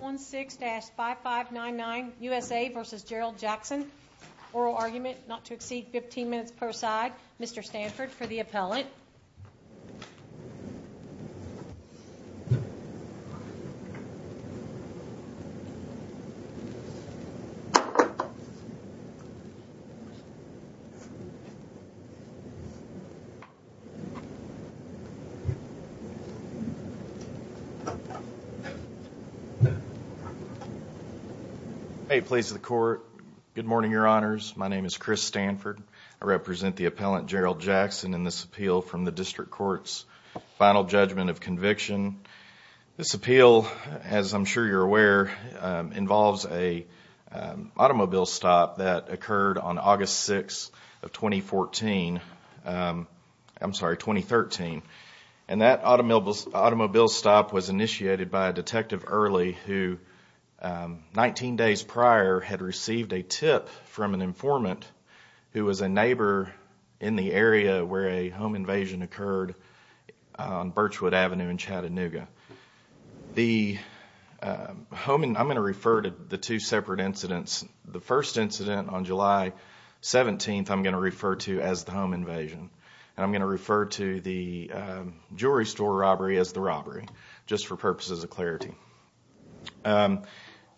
16-5599 U.S.A. v. Gerald Jackson Oral argument not to exceed 15 minutes per side Mr. Stanford for the appellate Mr. Stanford for the appellate Mr. Stanford for the appellate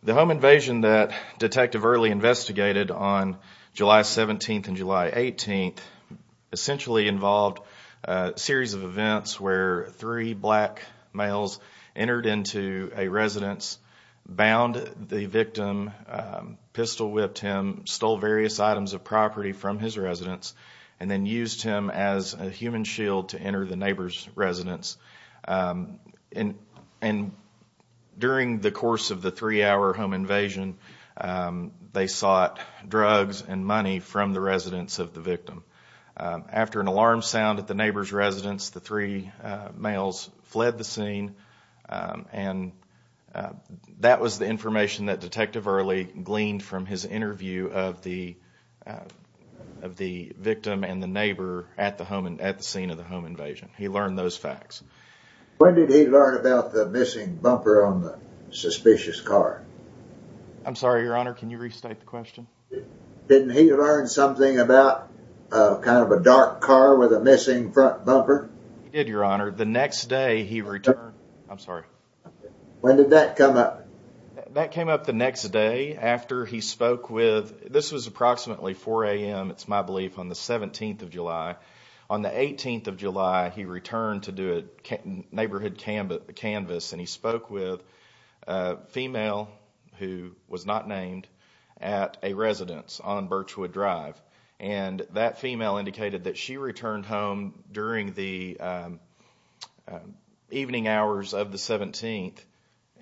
The home invasion that Detective Earley investigated on July 17th and July 18th essentially involved a series of events where three black males entered into a residence, bound the victim, pistol whipped him, stole various items of property from his residence, and then used him as a human shield to enter the neighbor's residence. During the course of the three-hour home invasion, they sought drugs and money from the residence of the victim. After an alarm sound at the neighbor's residence, the three males fled the scene, and that was the information that Detective Earley gleaned from his interview of the victim and the neighbor at the scene of the home invasion. He learned those facts. When did he learn about the missing bumper on the suspicious car? I'm sorry, Your Honor, can you restate the question? Didn't he learn something about kind of a dark car with a missing front bumper? He did, Your Honor. The next day, he returned... I'm sorry. When did that come up? That came up the next day after he spoke with... This was approximately 4 a.m., it's my belief, on the 17th of July. On the 18th of July, he returned to do a neighborhood canvas, and he spoke with a female who was not named at a residence on Birchwood Drive. That female indicated that she returned home during the evening hours of the 17th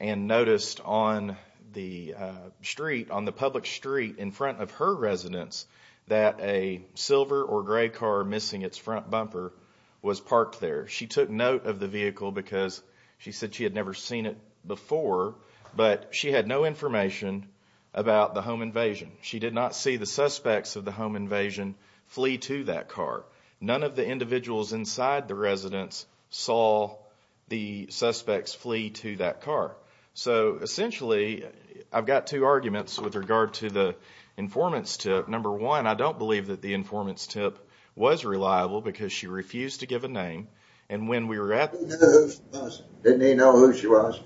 and noticed on the street, on the public street in front of her residence, that a silver or gray car missing its front bumper was parked there. She took note of the vehicle because she said she had never seen it before, but she had no information about the home invasion. She did not see the suspects of the home invasion flee to that car. None of the individuals inside the residence saw the suspects flee to that car. So, essentially, I've got two arguments with regard to the informant's tip. Number one, I don't believe that the informant's tip was reliable because she refused to give a name, and when we were at... Didn't he know who she was?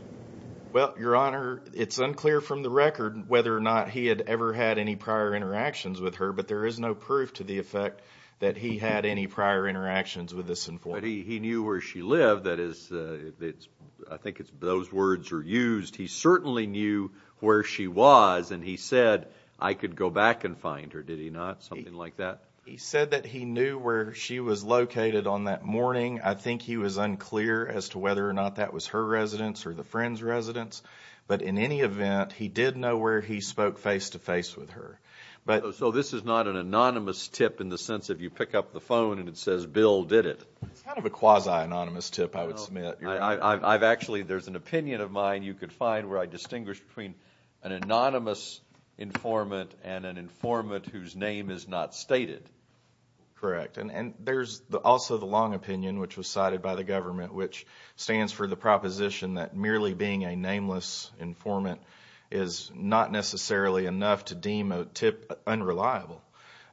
Well, Your Honor, it's unclear from the record whether or not he had ever had any prior interactions with her, but there is no proof to the effect that he had any prior interactions with this informant. But he knew where she lived. I think those words are used. He certainly knew where she was, and he said, I could go back and find her. Did he not? Something like that? He said that he knew where she was located on that morning. I think he was unclear as to whether or not that was her residence or the friend's residence, but in any event, he did know where he spoke face-to-face with her. So this is not an anonymous tip in the sense of you pick up the phone and it says, Bill did it? It's kind of a quasi-anonymous tip, I would submit. Actually, there's an opinion of mine you could find where I distinguish between an anonymous informant and an informant whose name is not stated. Correct. And there's also the long opinion, which was cited by the government, which stands for the proposition that merely being a nameless informant is not necessarily enough to deem a tip unreliable.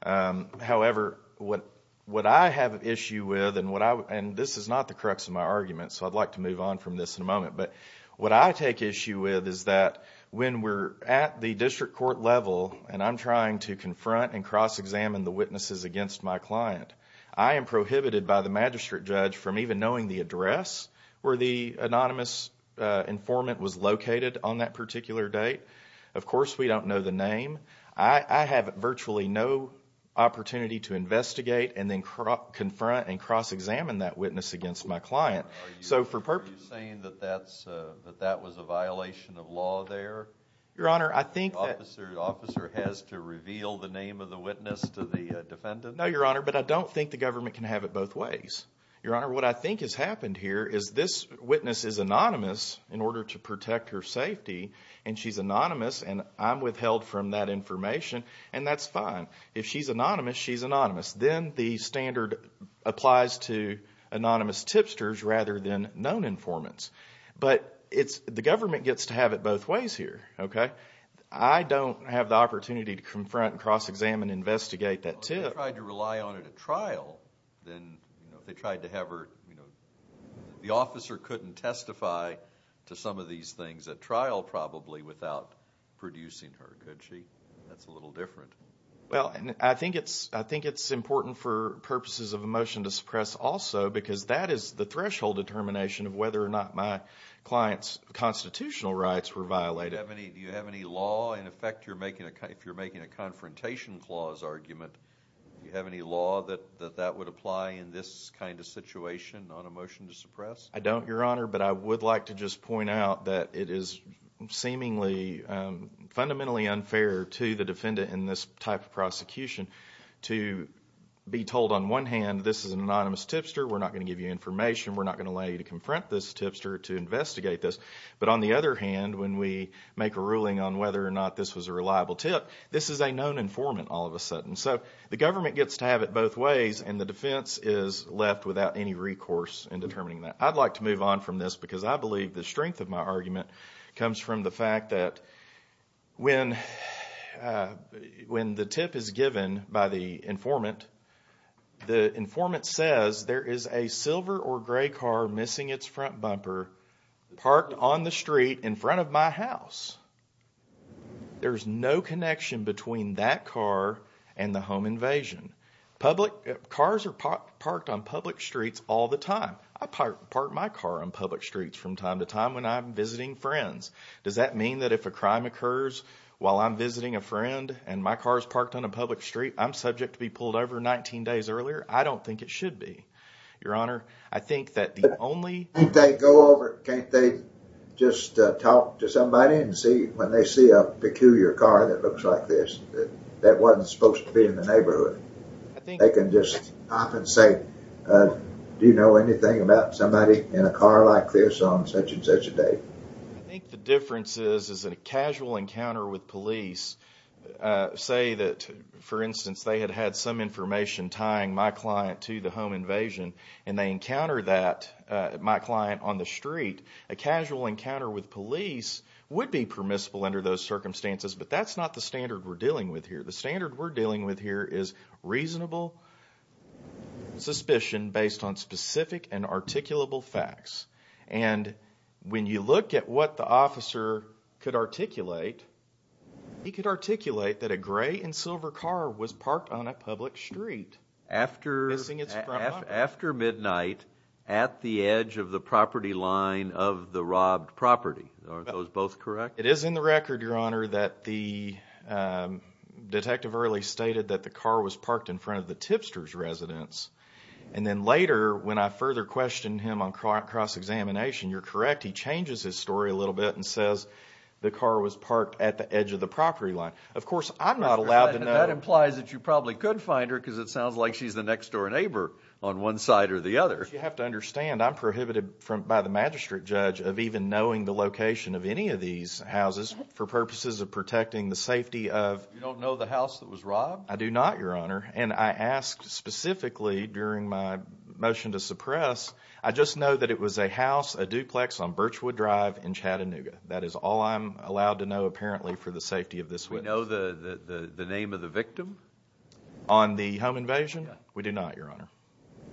However, what I have an issue with, and this is not the crux of my argument, so I'd like to move on from this in a moment, but what I take issue with is that when we're at the district court level and I'm trying to confront and cross-examine the witnesses against my client, I am prohibited by the magistrate judge from even knowing the address where the anonymous informant was located on that particular date. Of course, we don't know the name. I have virtually no opportunity to investigate and then confront and cross-examine that witness against my client. Are you saying that that was a violation of law there? Your Honor, I think that— The officer has to reveal the name of the witness to the defendant? No, Your Honor, but I don't think the government can have it both ways. Your Honor, what I think has happened here is this witness is anonymous in order to protect her safety, and she's anonymous, and I'm withheld from that information, and that's fine. If she's anonymous, she's anonymous. Then the standard applies to anonymous tipsters rather than known informants. But the government gets to have it both ways here. I don't have the opportunity to confront and cross-examine and investigate that tip. If they tried to rely on it at trial, then they tried to have her— the officer couldn't testify to some of these things at trial probably without producing her, could she? That's a little different. I think it's important for purposes of a motion to suppress also because that is the threshold determination of whether or not my client's constitutional rights were violated. Do you have any law in effect if you're making a confrontation clause argument that that would apply in this kind of situation on a motion to suppress? I don't, Your Honor, but I would like to just point out that it is seemingly fundamentally unfair to the defendant in this type of prosecution to be told on one hand this is an anonymous tipster, we're not going to give you information, we're not going to allow you to confront this tipster, to investigate this. But on the other hand, when we make a ruling on whether or not this was a reliable tip, this is a known informant all of a sudden. So the government gets to have it both ways, and the defense is left without any recourse in determining that. I'd like to move on from this because I believe the strength of my argument comes from the fact that when the tip is given by the informant, the informant says there is a silver or gray car missing its front bumper parked on the street in front of my house. There's no connection between that car and the home invasion. Cars are parked on public streets all the time. I park my car on public streets from time to time when I'm visiting friends. Does that mean that if a crime occurs while I'm visiting a friend and my car is parked on a public street, I'm subject to be pulled over 19 days earlier? I don't think it should be, Your Honor. Can't they go over, can't they just talk to somebody and when they see a peculiar car that looks like this, that wasn't supposed to be in the neighborhood, they can just hop and say, do you know anything about somebody in a car like this on such and such a day? I think the difference is that a casual encounter with police, say that, for instance, they had had some information tying my client to the home invasion and they encountered that, my client, on the street. A casual encounter with police would be permissible under those circumstances, but that's not the standard we're dealing with here. The standard we're dealing with here is reasonable suspicion based on specific and articulable facts. And when you look at what the officer could articulate, he could articulate that a gray and silver car was parked on a public street after midnight at the edge of the property line of the robbed property. Are those both correct? It is in the record, Your Honor, that the detective early stated that the car was parked in front of the tipster's residence. And then later, when I further questioned him on cross-examination, you're correct, he changes his story a little bit and says the car was parked at the edge of the property line. Of course, I'm not allowed to know. Well, that implies that you probably could find her because it sounds like she's the next-door neighbor on one side or the other. You have to understand I'm prohibited by the magistrate judge of even knowing the location of any of these houses for purposes of protecting the safety of— You don't know the house that was robbed? I do not, Your Honor. And I asked specifically during my motion to suppress, I just know that it was a house, a duplex on Birchwood Drive in Chattanooga. That is all I'm allowed to know, apparently, for the safety of this witness. Do we know the name of the victim? On the home invasion? We do not, Your Honor.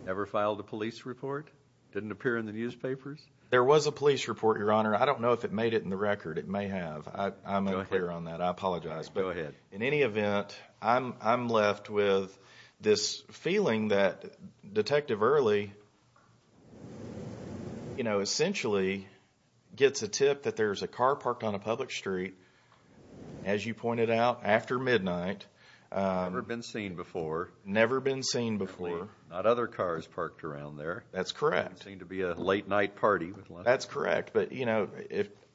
Never filed a police report? Didn't appear in the newspapers? There was a police report, Your Honor. I don't know if it made it in the record. It may have. Go ahead. I'm unclear on that. I apologize. Go ahead. In any event, I'm left with this feeling that Detective Early, you know, essentially gets a tip that there's a car parked on a public street. As you pointed out, after midnight— Never been seen before. Never been seen before. Apparently, not other cars parked around there. That's correct. Seemed to be a late night party. That's correct, but, you know,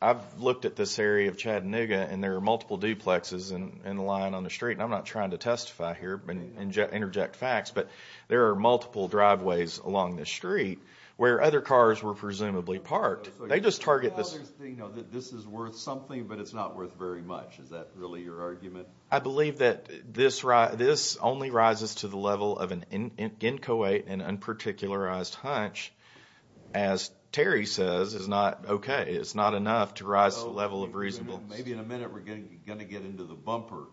I've looked at this area of Chattanooga and there are multiple duplexes in line on the street, and I'm not trying to testify here and interject facts, but there are multiple driveways along the street where other cars were presumably parked. They just target this— Is that really your argument? I believe that this only rises to the level of an inchoate and unparticularized hunch. As Terry says, it's not okay. It's not enough to rise to the level of reasonableness. Maybe in a minute we're going to get into the bumper,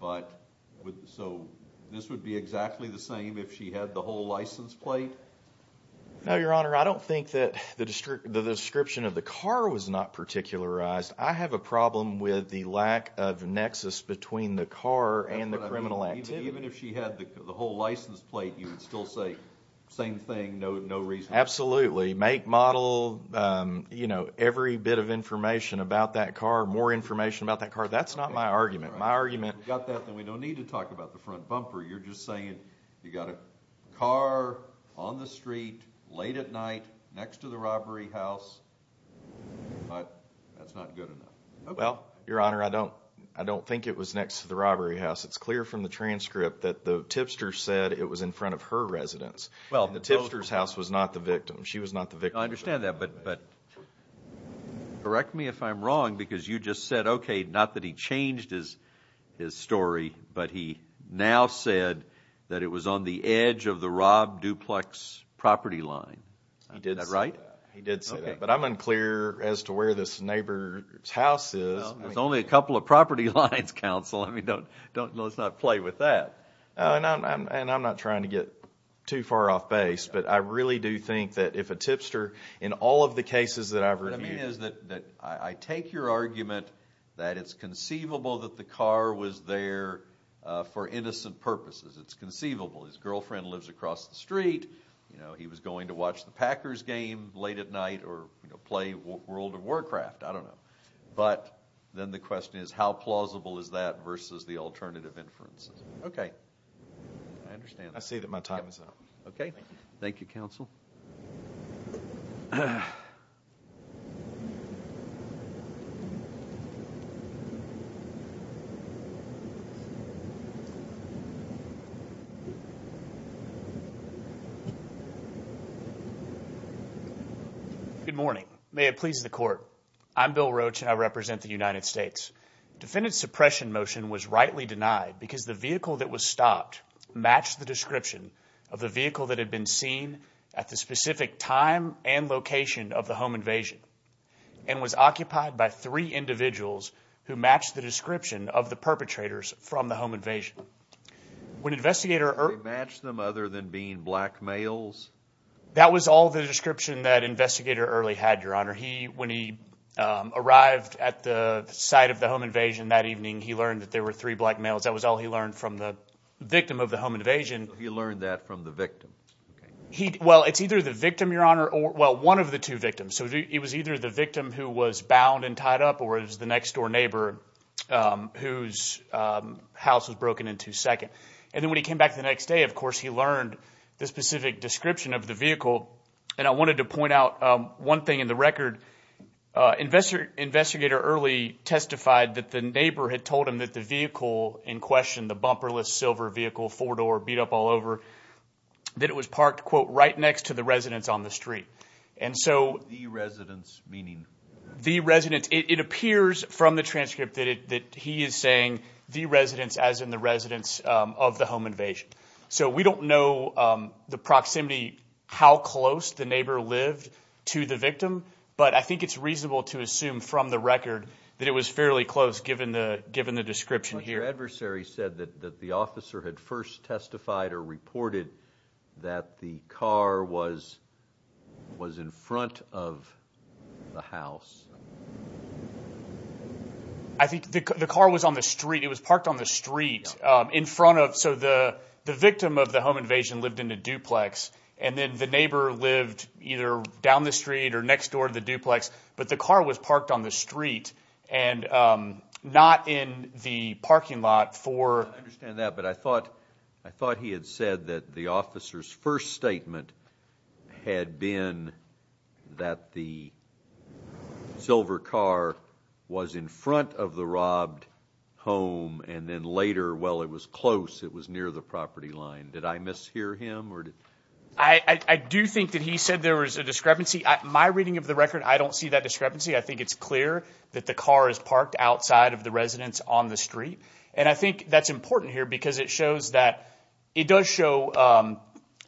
but so this would be exactly the same if she had the whole license plate? No, Your Honor, I don't think that the description of the car was not particularized. I have a problem with the lack of nexus between the car and the criminal activity. Even if she had the whole license plate, you would still say same thing, no reason? Absolutely. Make, model, you know, every bit of information about that car, more information about that car. That's not my argument. If you've got that, then we don't need to talk about the front bumper. You're just saying you've got a car on the street late at night next to the robbery house, but that's not good enough. Well, Your Honor, I don't think it was next to the robbery house. It's clear from the transcript that the tipster said it was in front of her residence, and the tipster's house was not the victim. She was not the victim. I understand that, but correct me if I'm wrong, because you just said, okay, not that he changed his story, but he now said that it was on the edge of the robbed duplex property line. Is that right? He did say that. But I'm unclear as to where this neighbor's house is. There's only a couple of property lines, counsel. I mean, let's not play with that. And I'm not trying to get too far off base, but I really do think that if a tipster, in all of the cases that I've reviewed. What I mean is that I take your argument that it's conceivable that the car was there for innocent purposes. It's conceivable. His girlfriend lives across the street. He was going to watch the Packers game late at night or play World of Warcraft. I don't know. But then the question is how plausible is that versus the alternative inferences? Okay. I understand that. I say that my time is up. Okay. Thank you, counsel. Good morning. May it please the court. I'm Bill Roach, and I represent the United States. Defendant's suppression motion was rightly denied because the vehicle that was stopped matched the description of the vehicle that had been seen at the specific time and location of the home invasion and was occupied by three individuals who matched the description of the perpetrators from the home invasion. They matched them other than being black males? That was all the description that Investigator Early had, Your Honor. When he arrived at the site of the home invasion that evening, he learned that there were three black males. That was all he learned from the victim of the home invasion. He learned that from the victim. Well, it's either the victim, Your Honor, or one of the two victims. So it was either the victim who was bound and tied up or it was the next-door neighbor whose house was broken into second. And then when he came back the next day, of course, he learned the specific description of the vehicle. And I wanted to point out one thing in the record. Investigator Early testified that the neighbor had told him that the vehicle in question, the bumperless silver vehicle, four-door, beat up all over, that it was parked, quote, right next to the residence on the street. The residence meaning? The residence. It appears from the transcript that he is saying the residence as in the residence of the home invasion. So we don't know the proximity, how close the neighbor lived to the victim, but I think it's reasonable to assume from the record that it was fairly close given the description here. Your adversary said that the officer had first testified or reported that the car was in front of the house. I think the car was on the street. It was parked on the street in front of so the victim of the home invasion lived in a duplex, and then the neighbor lived either down the street or next door to the duplex, but the car was parked on the street and not in the parking lot for. I understand that, but I thought he had said that the officer's first statement had been that the silver car was in front of the robbed home, and then later, well, it was close. It was near the property line. Did I mishear him? I do think that he said there was a discrepancy. My reading of the record, I don't see that discrepancy. I think it's clear that the car is parked outside of the residence on the street, and I think that's important here because it shows that it does show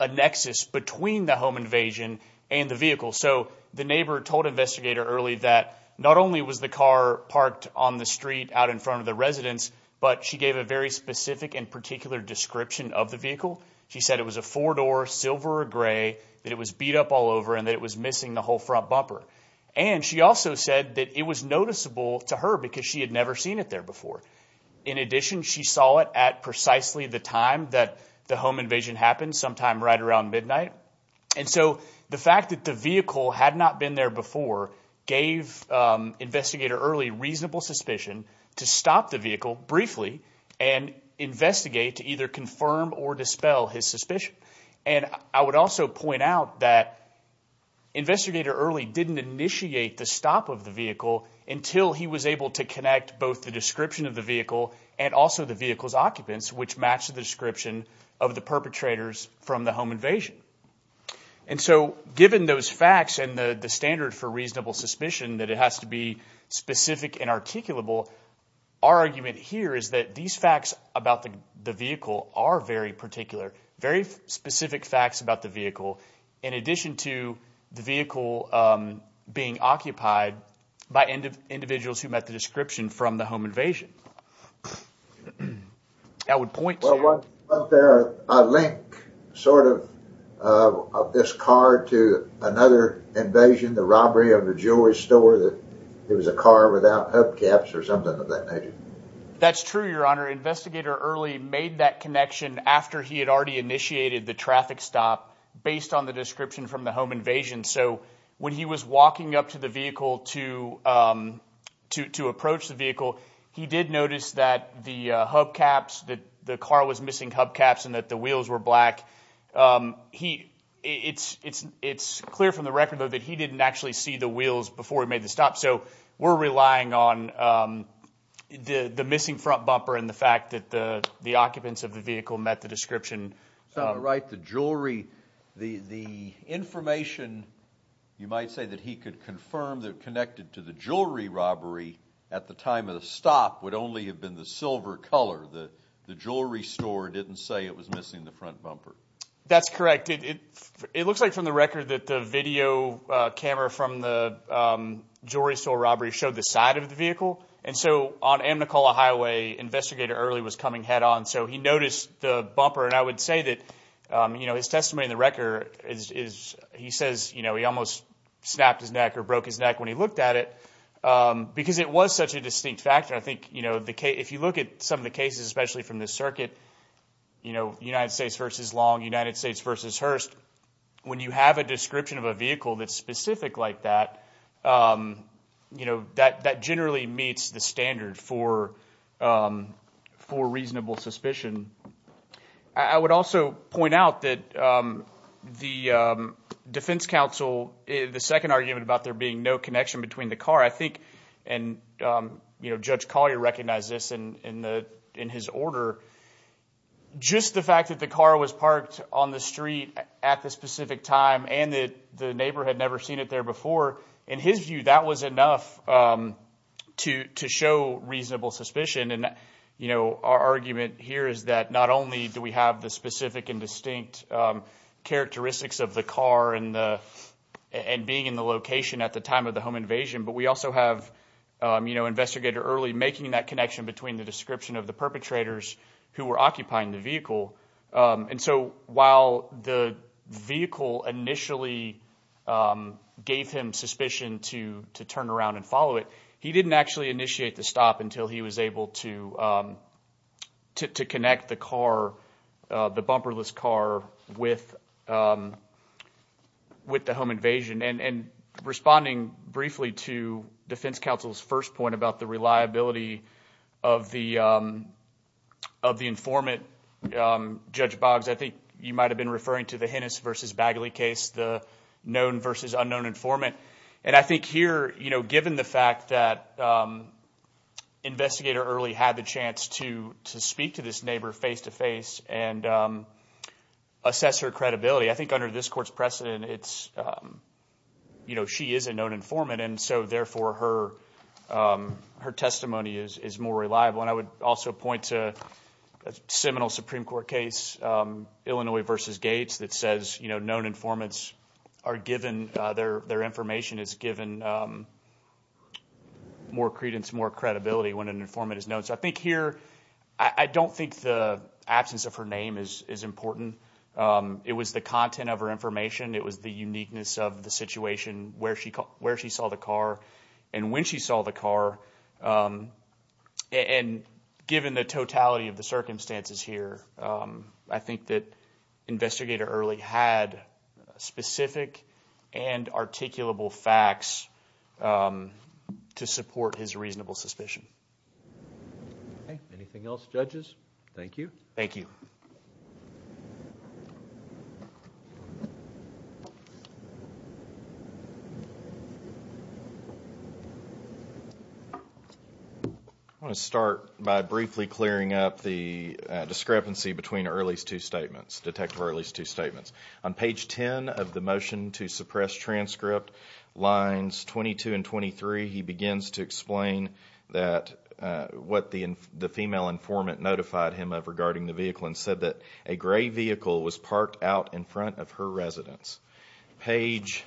a nexus between the home invasion and the vehicle. So the neighbor told investigator early that not only was the car parked on the street out in front of the residence, but she gave a very specific and particular description of the vehicle. She said it was a four-door, silver or gray, that it was beat up all over, and that it was missing the whole front bumper, and she also said that it was noticeable to her because she had never seen it there before. In addition, she saw it at precisely the time that the home invasion happened, sometime right around midnight, and so the fact that the vehicle had not been there before gave investigator early reasonable suspicion to stop the vehicle briefly and investigate to either confirm or dispel his suspicion. And I would also point out that investigator early didn't initiate the stop of the vehicle until he was able to connect both the description of the vehicle and also the vehicle's occupants, which matched the description of the perpetrators from the home invasion. And so given those facts and the standard for reasonable suspicion that it has to be specific and articulable, our argument here is that these facts about the vehicle are very particular, very specific facts about the vehicle in addition to the vehicle being occupied by individuals who met the description from the home invasion. That's true, Your Honor. Investigator early made that connection after he had already initiated the traffic stop based on the description from the home invasion. So when he was walking up to the vehicle to approach the vehicle, he did notice that the hubcaps, that the car was missing hubcaps and that the wheels were black. It's clear from the record, though, that he didn't actually see the wheels before he made the stop. So we're relying on the missing front bumper and the fact that the occupants of the vehicle met the description. Right. The jewelry, the information, you might say, that he could confirm that connected to the jewelry robbery at the time of the stop would only have been the silver color. The jewelry store didn't say it was missing the front bumper. That's correct. It looks like from the record that the video camera from the jewelry store robbery showed the side of the vehicle. And so on Amicola Highway, Investigator Early was coming head on. So he noticed the bumper. And I would say that, you know, his testimony in the record is he says, you know, he almost snapped his neck or broke his neck when he looked at it because it was such a distinct factor. I think, you know, if you look at some of the cases, especially from this circuit, you know, United States versus long United States versus Hearst. When you have a description of a vehicle that's specific like that, you know, that that generally meets the standard for for reasonable suspicion. I would also point out that the defense counsel, the second argument about there being no connection between the car, I think. And, you know, Judge Collier recognized this in the in his order. Just the fact that the car was parked on the street at the specific time and that the neighbor had never seen it there before. In his view, that was enough to to show reasonable suspicion. And, you know, our argument here is that not only do we have the specific and distinct characteristics of the car and the and being in the location at the time of the home invasion, but we also have, you know, investigator early making that connection between the description of the perpetrators who were occupying the vehicle. And so while the vehicle initially gave him suspicion to to turn around and follow it, he didn't actually initiate the stop until he was able to to connect the car, the bumperless car with with the home invasion. And responding briefly to defense counsel's first point about the reliability of the of the informant, Judge Boggs, I think you might have been referring to the Hennis versus Bagley case, the known versus unknown informant. And I think here, you know, given the fact that investigator early had the chance to to speak to this neighbor face to face and assess her credibility. I think under this court's precedent, it's you know, she is a known informant. And so therefore, her her testimony is is more reliable. And I would also point to a seminal Supreme Court case, Illinois versus Gates, that says, you know, known informants are given their their information is given more credence, more credibility when an informant is known. So I think here I don't think the absence of her name is is important. It was the content of her information. It was the uniqueness of the situation where she where she saw the car and when she saw the car. And given the totality of the circumstances here, I think that investigator early had specific and articulable facts to support his reasonable suspicion. Anything else, judges? Thank you. Thank you. I want to start by briefly clearing up the discrepancy between early two statements. Detective early two statements on page 10 of the motion to suppress transcript lines 22 and 23. He begins to explain that what the the female informant notified him of regarding the vehicle and said that a gray vehicle was parked out in front of her residence. Page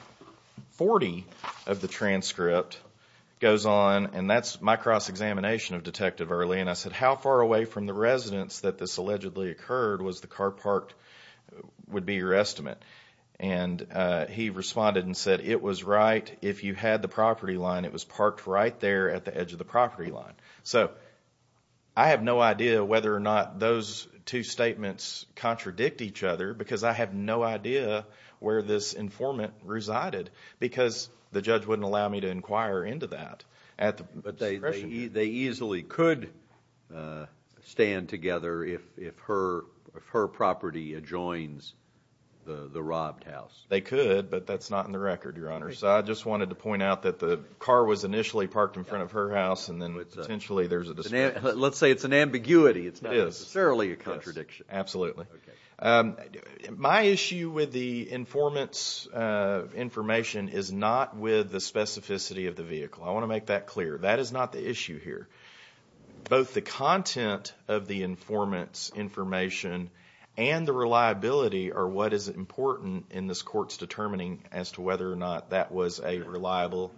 40 of the transcript goes on. And that's my cross examination of detective early. And I said, how far away from the residence that this allegedly occurred was the car parked would be your estimate. And he responded and said it was right. If you had the property line, it was parked right there at the edge of the property line. So I have no idea whether or not those two statements contradict each other, because I have no idea where this informant resided, because the judge wouldn't allow me to inquire into that. But they they easily could stand together if if her if her property adjoins the robbed house. They could. But that's not in the record. Your Honor. So I just wanted to point out that the car was initially parked in front of her house. And then potentially there's a let's say it's an ambiguity. It's not necessarily a contradiction. Absolutely. My issue with the informants information is not with the specificity of the vehicle. I want to make that clear. That is not the issue here. Both the content of the informants information and the reliability are what is important in this court's determining as to whether or not that was a reliable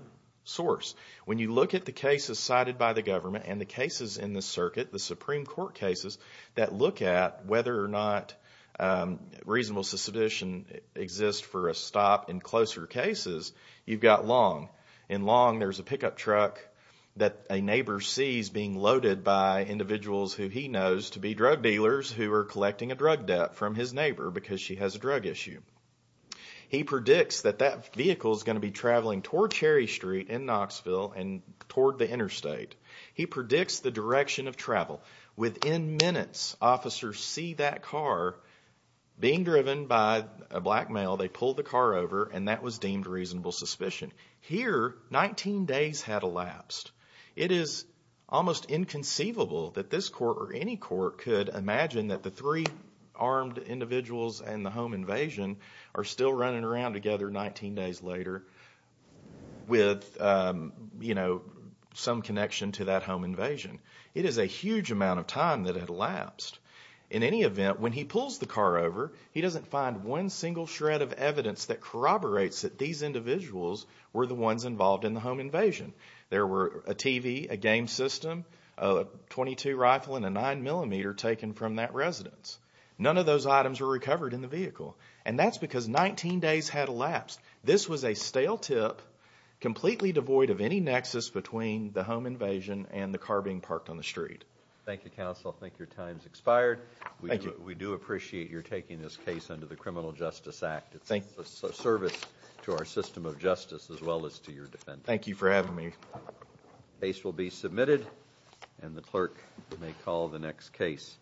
source. When you look at the cases cited by the government and the cases in the circuit, the Supreme Court cases that look at whether or not reasonable suspicion exists for a stop in closer cases, you've got long and long. There's a pickup truck that a neighbor sees being loaded by individuals who he knows to be drug dealers who are collecting a drug debt from his neighbor because she has a drug issue. He predicts that that vehicle is going to be traveling toward Cherry Street in Knoxville and toward the interstate. He predicts the direction of travel within minutes. Officers see that car being driven by a black male. They pull the car over and that was deemed reasonable suspicion. Here, 19 days had elapsed. It is almost inconceivable that this court or any court could imagine that the three armed individuals and the home invasion are still running around together 19 days later with some connection to that home invasion. It is a huge amount of time that had elapsed. In any event, when he pulls the car over, he doesn't find one single shred of evidence that corroborates that these individuals were the ones involved in the home invasion. There were a TV, a game system, a .22 rifle, and a 9mm taken from that residence. None of those items were recovered in the vehicle. And that's because 19 days had elapsed. This was a stale tip completely devoid of any nexus between the home invasion and the car being parked on the street. Thank you, counsel. I think your time has expired. Thank you. We do appreciate your taking this case under the Criminal Justice Act. It's a service to our system of justice as well as to your defense. Thank you for having me. The case will be submitted and the clerk may call the next case.